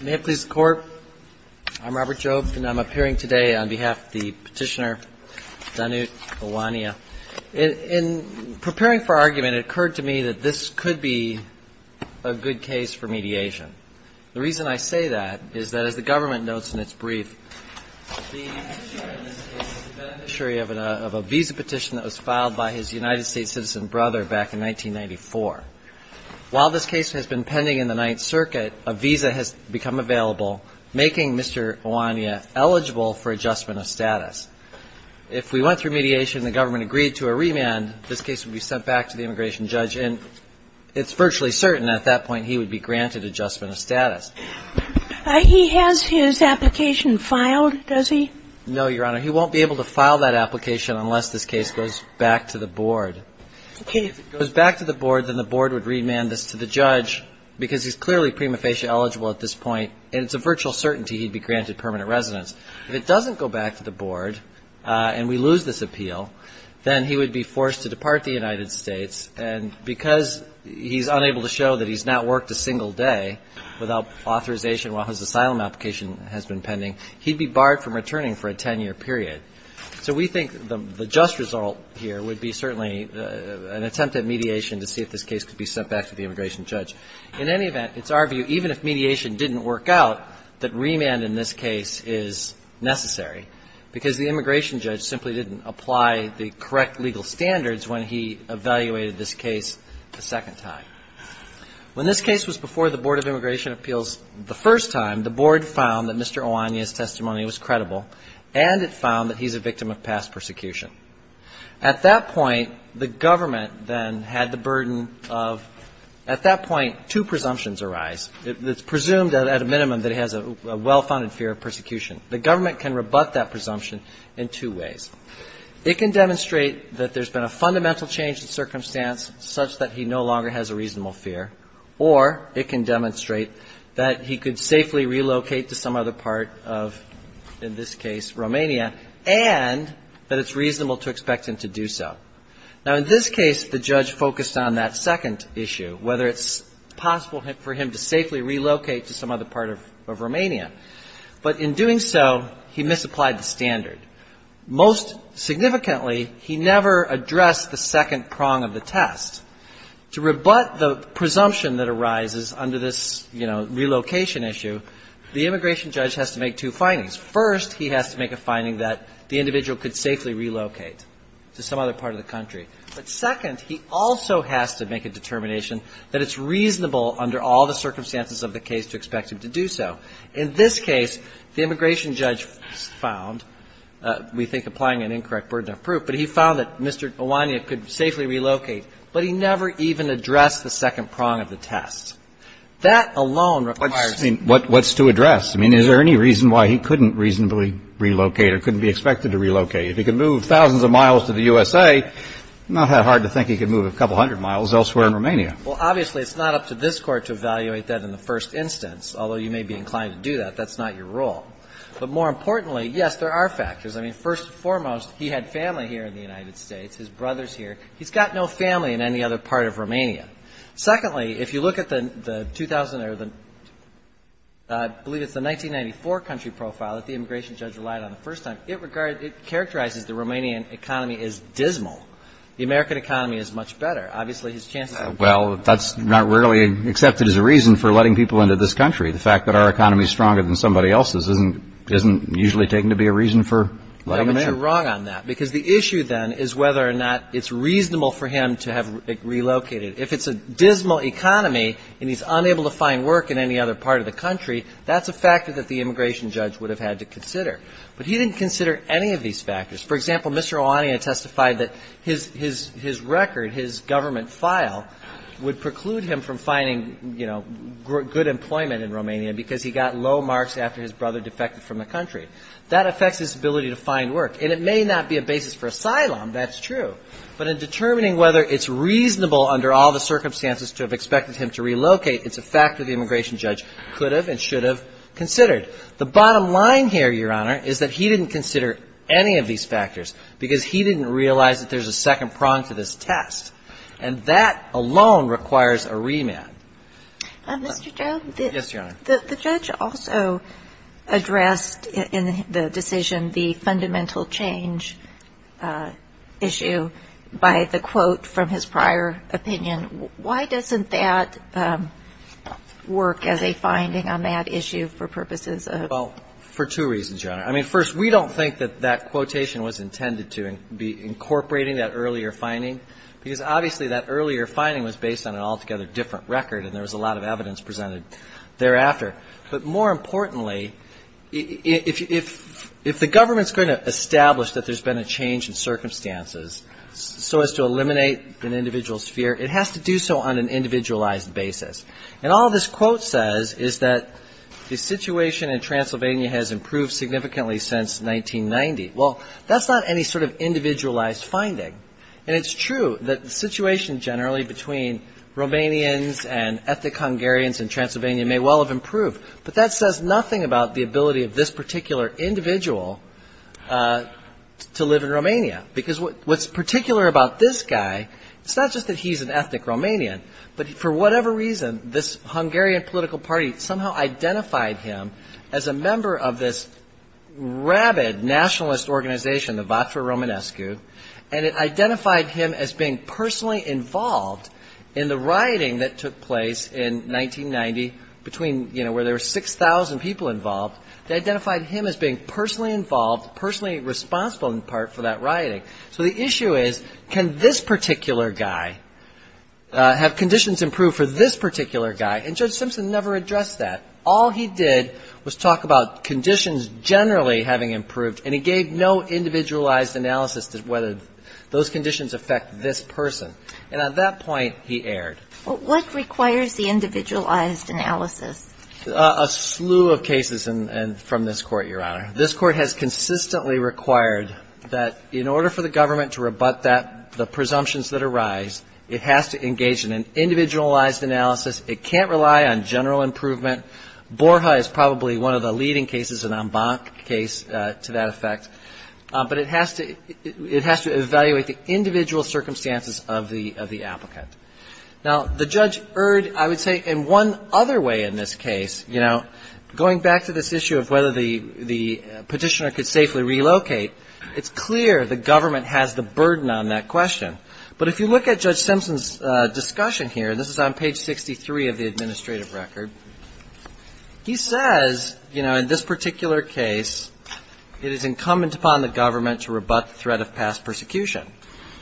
May it please the Court, I'm Robert Jobe and I'm appearing today on behalf of the petitioner Danut Oanea. In preparing for our argument, it occurred to me that this could be a good case for mediation. The reason I say that is that as the government notes in its brief, the petitioner in this case is the beneficiary of a visa petition that was filed by his United While this case has been pending in the Ninth Circuit, a visa has become available, making Mr. Oanea eligible for adjustment of status. If we went through mediation and the government agreed to a remand, this case would be sent back to the immigration judge and it's virtually certain at that point he would be granted adjustment of status. He has his application filed, does he? No, Your Honor. He won't be able to file that application unless this case goes back to the board. If it goes back to the board, then the board would remand this to the judge because he's clearly prima facie eligible at this point and it's a virtual certainty he'd be granted permanent residence. If it doesn't go back to the board and we lose this appeal, then he would be forced to depart the United States and because he's unable to show that he's not worked a single day without authorization while his asylum application has been pending, he'd be barred from returning for a 10-year period. So we think the just result here would be certainly an attempt at mediation to see if this case could be sent back to the immigration judge. In any event, it's our view, even if mediation didn't work out, that remand in this case is necessary because the immigration judge simply didn't apply the correct legal standards when he evaluated this case a second time. When this case was before the Board of Immigration Appeals the first time, the board found that he's a victim of past persecution. At that point, the government then had the burden of at that point two presumptions arise. It's presumed at a minimum that he has a well-founded fear of persecution. The government can rebut that presumption in two ways. It can demonstrate that there's been a fundamental change in circumstance such that he no longer has a reasonable fear or it can demonstrate that he could safely relocate to some other part of, in this case, Romania, and that it's reasonable to expect him to do so. Now, in this case, the judge focused on that second issue, whether it's possible for him to safely relocate to some other part of Romania. But in doing so, he misapplied the standard. Most significantly, he never addressed the second prong of the test. To rebut the presumption that arises under this, you know, relocation issue, the immigration judge has to make two findings. First, he has to make a finding that the individual could safely relocate to some other part of the country. But second, he also has to make a determination that it's reasonable under all the circumstances of the case to expect him to do so. In this case, the immigration judge found, we think, applying an incorrect burden of proof, but he found that Mr. Iwania could safely relocate, but he never even addressed the second prong of the test. That alone requires a second prong of the test. Kennedy. I mean, what's to address? I mean, is there any reason why he couldn't reasonably relocate or couldn't be expected to relocate? If he could move thousands of miles to the USA, not that hard to think he could move a couple hundred miles elsewhere in Romania. Well, obviously, it's not up to this Court to evaluate that in the first instance, although you may be inclined to do that. That's not your role. But more importantly, yes, there are factors. I mean, first and foremost, he had family here in the United States, his brothers here. He's got no family in any other part of Romania. Secondly, if you look at the 2000 or the 1994 country profile that the immigration judge relied on the first time, it characterizes the Romanian economy as dismal. The American economy is much better. Obviously, his chances are better. Well, that's not really accepted as a reason for letting people into this country. The fact that our economy is stronger than somebody else's isn't usually taken to be a reason for letting them in. No, but you're wrong on that, because the issue then is whether or not it's reasonable for him to have relocated. If it's a dismal economy and he's unable to find work in any other part of the country, that's a factor that the immigration judge would have had to consider. But he didn't consider any of these factors. For example, Mr. Oanaia testified that his record, his government file, would preclude him from finding, you know, good employment in Romania because he got low marks after his brother defected from the country. That affects his ability to find work. And it may be a factor that the immigration judge could have and should have considered. The bottom line here, Your Honor, is that he didn't consider any of these factors because he didn't realize that there's a second prong to this test. And that alone requires a remand. Mr. Joe, the judge also addressed in the decision the fundamental change issue by the question of whether or not it's reasonable for him to have relocated to Romania. And he did not quote from his prior opinion. Why doesn't that work as a finding on that issue for purposes of ---- Well, for two reasons, Your Honor. I mean, first, we don't think that that quotation was intended to be incorporating that earlier finding, because obviously that earlier finding was based on an altogether different record and there was a lot of evidence sphere. It has to do so on an individualized basis. And all this quote says is that the situation in Transylvania has improved significantly since 1990. Well, that's not any sort of individualized finding. And it's true that the situation generally between Romanians and ethnic Hungarians in Transylvania may well have improved, but that says nothing about the ability of this particular individual to live in Romania. Because what's particular about this guy, it's not just that he's an ethnic Romanian, but for whatever reason, this Hungarian political party somehow identified him as a member of this rabid nationalist organization, the Vatra Romanescu, and it identified him as being personally involved in the rioting that took place in 1990 between, you know, where there were 6,000 people involved. They identified him as being personally involved, personally responsible in part for that rioting. So the issue is, can this particular guy have conditions improve for this particular guy? And Judge Simpson never addressed that. All he did was talk about conditions generally having improved, and he gave no individualized analysis as to whether those conditions affect this person. And at that point, he erred. Well, what requires the individualized analysis? A slew of cases from this Court, Your Honor. This Court has consistently required that in order for the government to rebut that, the presumptions that arise, it has to engage in an individualized analysis. It can't rely on general improvement. Borja is probably one of the leading cases, an en banc case to that effect. But it has to evaluate the individual circumstances of the applicant. Now, the judge erred, I would say, in one other way in this case. You know, going back to this issue of whether the Petitioner could safely relocate, it's clear the government has the burden on that question. But if you look at Judge Simpson's discussion here, and this is on page 63 of the administrative record, he says, you know, in this particular case, it is incumbent upon the government to rebut the threat of past persecution.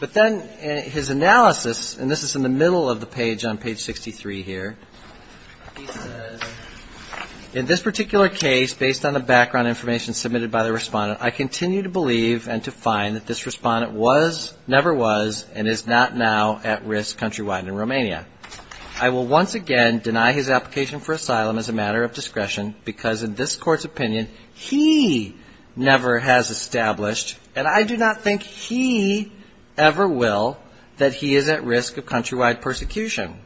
But then his analysis, and this is in the middle of the page on page 63 here, he says, in this particular case, based on the background information submitted by the Respondent, I continue to believe and to find that this Respondent was, never was, and is not now at risk countrywide in Romania. I will once again deny his application for asylum as a matter of fact, but I will say that in this Court's opinion, he never has established, and I do not think he ever will, that he is at risk of countrywide persecution.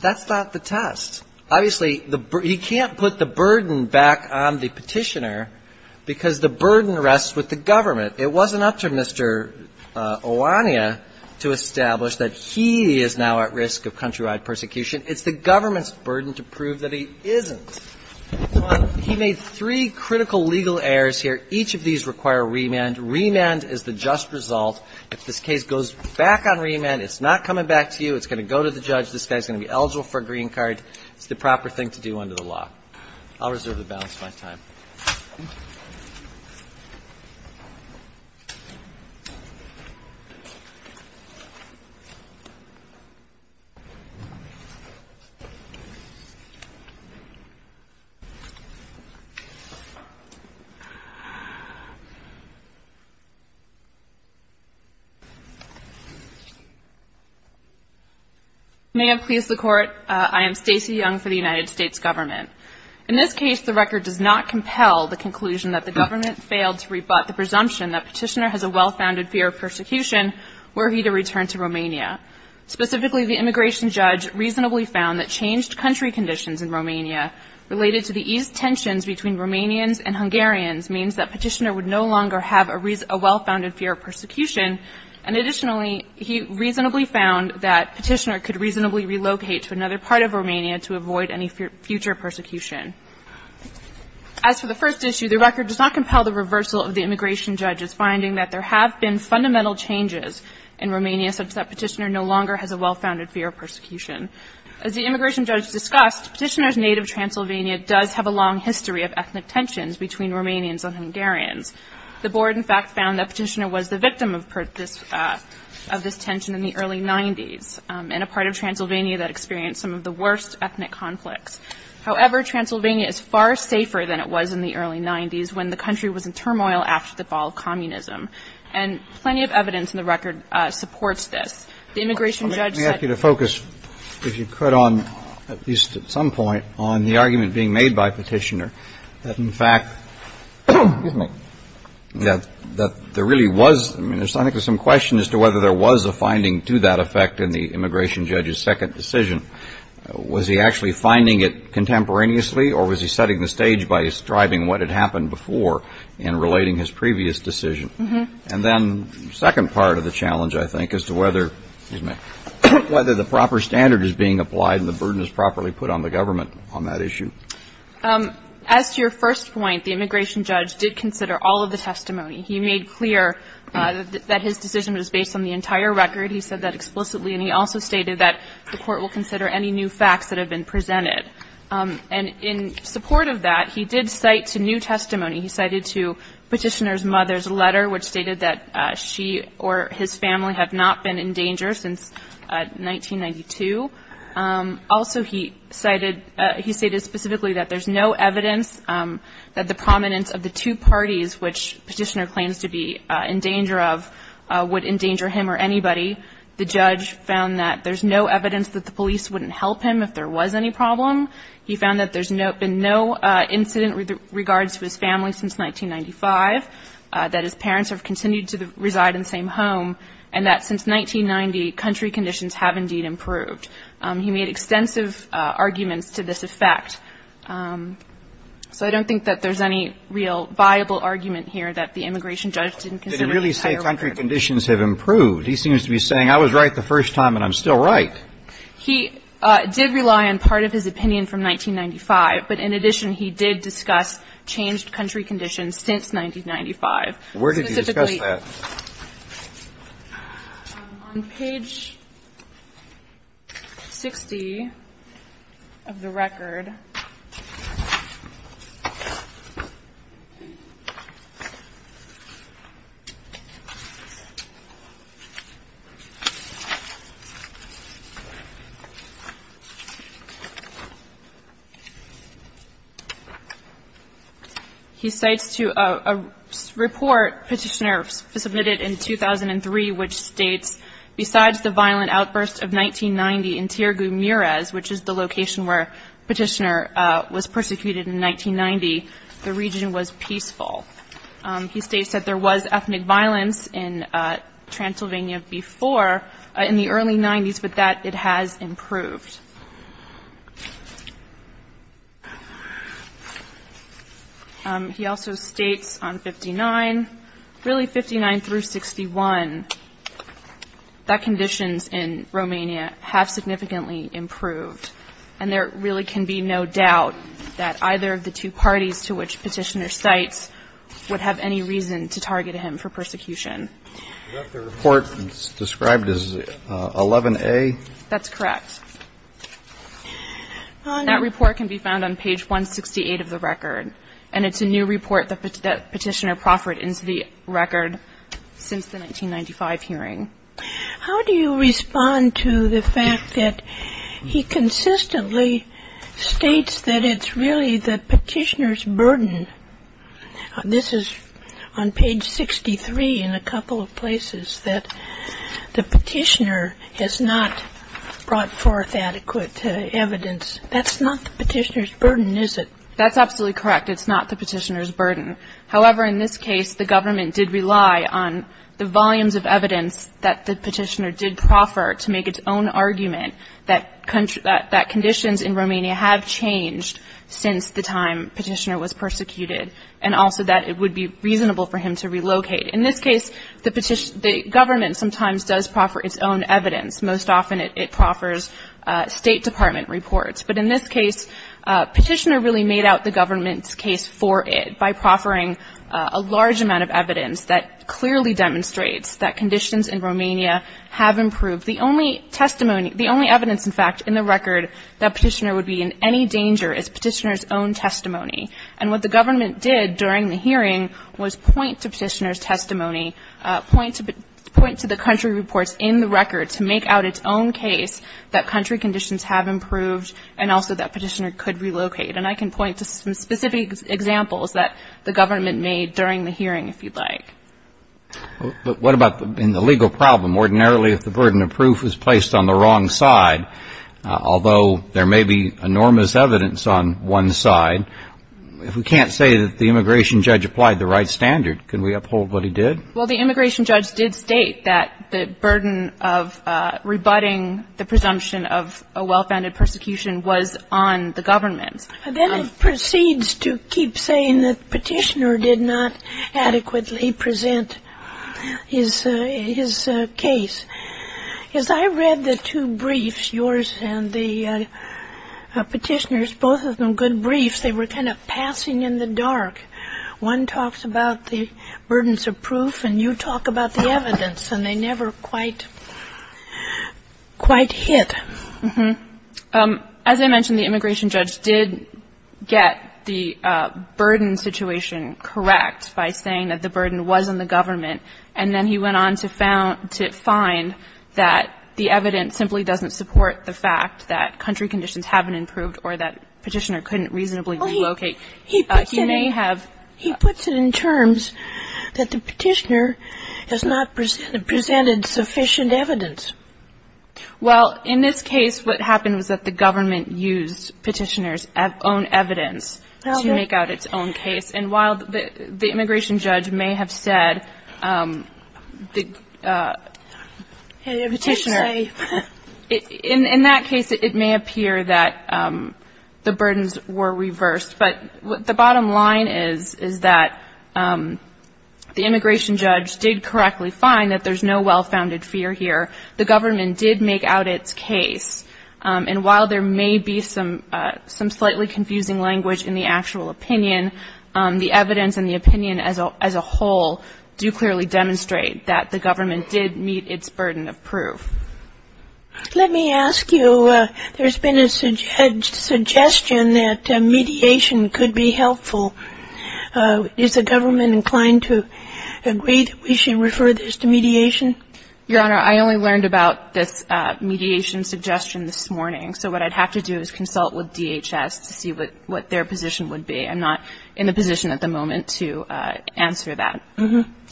That's not the test. Obviously, he can't put the burden back on the Petitioner because the burden rests with the government. It wasn't up to Mr. Oana to establish that he is now at risk of countrywide persecution. It's the government's burden to prove that he isn't. He made three critical legal errors here. Each of these require remand. Remand is the just result. If this case goes back on remand, it's not coming back to you. It's going to go to the judge. This guy is going to be eligible for a green card. It's the proper thing to do under the law. I'll reserve the balance of my time. May it please the Court, I am Stacey Young for the United States Government. In this case, the record does not compel the conclusion that the government failed to rebut the presumption that Petitioner has a well-founded fear of persecution were he to return to Romania. Specifically, the immigration judge reasonably found that changed country conditions in Romania related to the eased tensions between Romanians and Hungarians means that Petitioner would no longer have a well-founded fear of persecution. And additionally, he reasonably found that Petitioner could reasonably relocate to another part of Romania to avoid any future persecution. As for the first issue, the record does not compel the reversal of the immigration judge's finding that there have been fundamental changes in Romania such that Petitioner no longer has a well-founded fear of persecution. As the immigration judge discussed, Petitioner's native Transylvania does have a long history of ethnic tensions between Romanians and Hungarians. The board, in fact, found that Petitioner was the victim of this tension in the early 90s in a part of Transylvania that experienced some of the worst ethnic conflicts. However, Transylvania is far safer than it was in the early 90s when the country was in turmoil after the fall of communism. And plenty of evidence in the record supports this. The immigration judge said — Let me ask you to focus, if you could, on, at least at some point, on the argument being made by Petitioner that, in fact — excuse me — that there really was — I mean, there's, I think, some question as to whether there was a finding to that effect in the immigration judge's second decision. Was he actually finding it contemporaneously, or was he setting the stage by describing what had happened before in relating his previous decision? And then the second part of the challenge, I think, as to whether — excuse me — whether the proper standard is being applied and the burden is properly put on the government on that issue. As to your first point, the immigration judge did consider all of the testimony. He made clear that his decision was based on the entire record. He said that explicitly, and he also stated that the Court will consider any new facts that have been presented. And in support of that, he did cite to new testimony. He cited to Petitioner's mother's letter, which stated that she or his family have not been in danger since 1992. Also, he cited — he stated specifically that there's no evidence that the prominence of the two parties, which Petitioner claims to be in danger of, would endanger him or anybody. The judge found that there's no evidence that the police wouldn't help him if there was any problem. He found that there's been no incident with regards to his family since 1995, that his parents have continued to reside in the same home, and that since 1990, country conditions have indeed improved. He made extensive arguments to this effect. So I don't think that there's any real viable argument here that the immigration judge didn't consider the entire record. Kennedy, did he really say country conditions have improved? He seems to be saying I was right the first time and I'm still right. He did rely on part of his opinion from 1995. But in addition, he did discuss changed country conditions since 1995. Where did he discuss that? On page 60 of the record, he cites to a report Petitioner submitted in 2003, which states, besides the violent outburst of 1990 in Tirgu Mures, which is the location where Petitioner was persecuted in 1990, the region was peaceful. He states that there was ethnic violence in Transylvania before, in the early 90s, but that it has improved. He also states on 59, really 59 through 61, that conditions in Romania have significantly improved. And there really can be no doubt that either of the two parties to which Petitioner cites would have any reason to target him for persecution. Is that the report described as 11A? That's correct. That report can be found on page 168 of the record, and it's a new report that Petitioner has submitted, and it's been the most proferent entity record since the 1995 hearing. How do you respond to the fact that he consistently states that it's really the Petitioner's burden? This is on page 63 in a couple of places, that the Petitioner has not brought forth adequate evidence. That's not the Petitioner's burden, is it? That's absolutely correct, it's not the Petitioner's burden. However, in this case, the government did rely on the volumes of evidence that the Petitioner did proffer to make its own argument that conditions in Romania have changed since the time Petitioner was persecuted, and also that it would be reasonable for him to relocate. In this case, the government sometimes does proffer its own evidence. Most often, it proffers State Department reports. But in this case, Petitioner really made out the government's case for it by proffering a large amount of evidence that clearly demonstrates that conditions in Romania have improved. The only testimony, the only evidence, in fact, in the record that Petitioner would be in any danger is Petitioner's own testimony. And what the government did during the hearing was point to Petitioner's testimony, point to the country reports in the record to make out its own case that country conditions have improved and also that Petitioner could relocate. And I can point to some specific examples that the government made during the hearing, if you'd like. But what about in the legal problem? Ordinarily, if the burden of proof is placed on the wrong side, although there may be enormous evidence on one side, if we can't say that the immigration judge applied the right standard, can we uphold what he did? Well, the immigration judge did state that the burden of rebutting the presumption of a well-founded persecution was on the government. Then it proceeds to keep saying that Petitioner did not adequately present his case. As I read the two briefs, yours and the Petitioner's, both of them good briefs, they were kind of passing in the dark. One talks about the burdens of proof, and you talk about the evidence, and they never quite hit. As I mentioned, the immigration judge did get the burden situation correct by saying that the burden was on the government. And then he went on to find that the evidence simply doesn't support the fact that country conditions haven't improved or that Petitioner couldn't reasonably relocate. He may have ---- He puts it in terms that the Petitioner has not presented sufficient evidence. Well, in this case, what happened was that the government used Petitioner's own evidence to make out its own case. And while the immigration judge may have said the Petitioner ---- In that case, it may appear that the burdens were reversed. But the bottom line is, is that the immigration judge did correctly find that there's no well-founded fear here. The government did make out its case. And while there may be some slightly confusing language in the actual opinion, the evidence and the opinion as a whole do clearly demonstrate that the government did meet its burden of proof. Let me ask you, there's been a suggestion that mediation could be helpful. Is the government inclined to agree that we should refer this to mediation? Your Honor, I only learned about this mediation suggestion this morning. So what I'd have to do is consult with DHS to see what their position would be. I'm not in the position at the moment to answer that.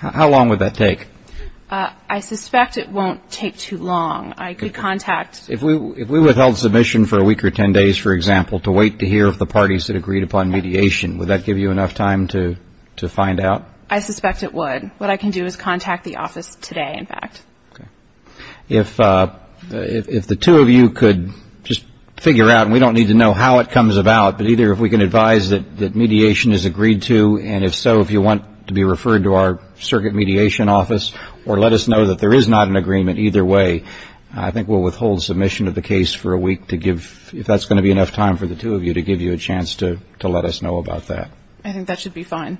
How long would that take? I suspect it won't take too long. I could contact ---- If we withheld submission for a week or ten days, for example, to wait to hear of the parties that agreed upon mediation, would that give you enough time to find out? I suspect it would. What I can do is contact the office today, in fact. Okay. If the two of you could just figure out, and we don't need to know how it comes about, but either if we can advise that mediation is agreed to, and if so if you want to be referred to our circuit mediation office or let us know that there is not an agreement either way, I think we'll withhold submission of the case for a week to give, if that's going to be enough time for the two of you to give you a chance to let us know about that. I think that should be fine.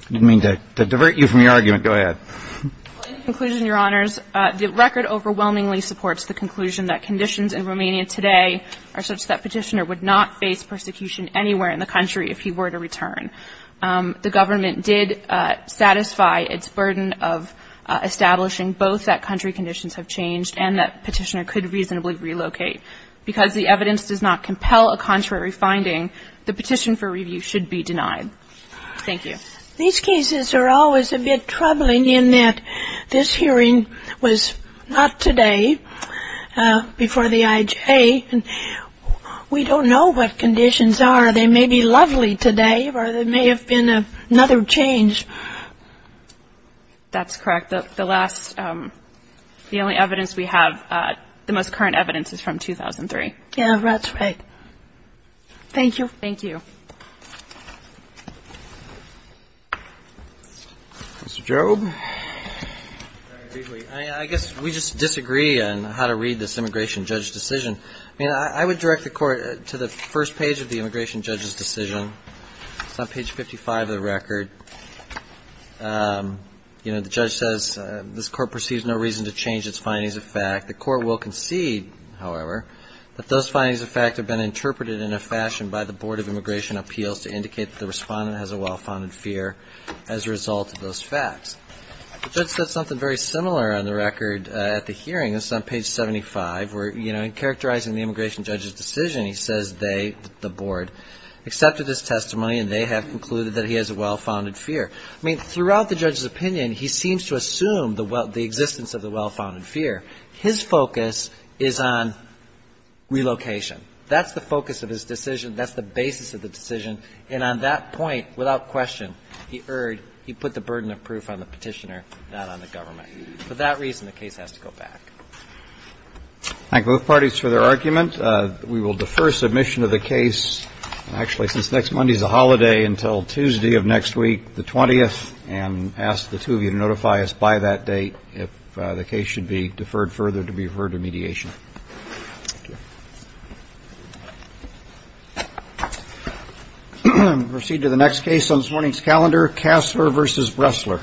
I didn't mean to divert you from your argument. Go ahead. In conclusion, Your Honors, the record overwhelmingly supports the conclusion that conditions in Romania today are such that Petitioner would not face persecution anywhere in the country if he were to return. The government did satisfy its burden of establishing both that country conditions have changed and that Petitioner could reasonably relocate. Because the evidence does not compel a contrary finding, the petition for review should be denied. Thank you. These cases are always a bit troubling in that this hearing was not today before the IJ, and we don't know what conditions are. They may be lovely today or there may have been another change. That's correct. The last, the only evidence we have, the most current evidence is from 2003. Yeah, that's right. Thank you. Thank you. Mr. Jobe. I guess we just disagree on how to read this immigration judge's decision. I mean, I would direct the Court to the first page of the immigration judge's decision. It's on page 55 of the record. You know, the judge says, This Court perceives no reason to change its findings of fact. The Court will concede, however, that those findings of fact have been interpreted in a fashion by the Board of Immigration Appeals to indicate that the respondent has a well-founded fear as a result of those facts. The judge said something very similar on the record at the hearing. This is on page 75 where, you know, in characterizing the immigration judge's decision, he says they, the Board, accepted his testimony and they have concluded that he has a well-founded fear. I mean, throughout the judge's opinion, he seems to assume the existence of the well-founded fear. His focus is on relocation. That's the focus of his decision. That's the basis of the decision. And on that point, without question, he erred. He put the burden of proof on the Petitioner, not on the government. For that reason, the case has to go back. Thank both parties for their argument. We will defer submission of the case, actually, since next Monday is a holiday, until Tuesday of next week, the 20th, and ask the two of you to notify us by that date if the case should be deferred further to be referred to mediation. Thank you. We'll proceed to the next case on this morning's calendar, Kassler v. Bressler.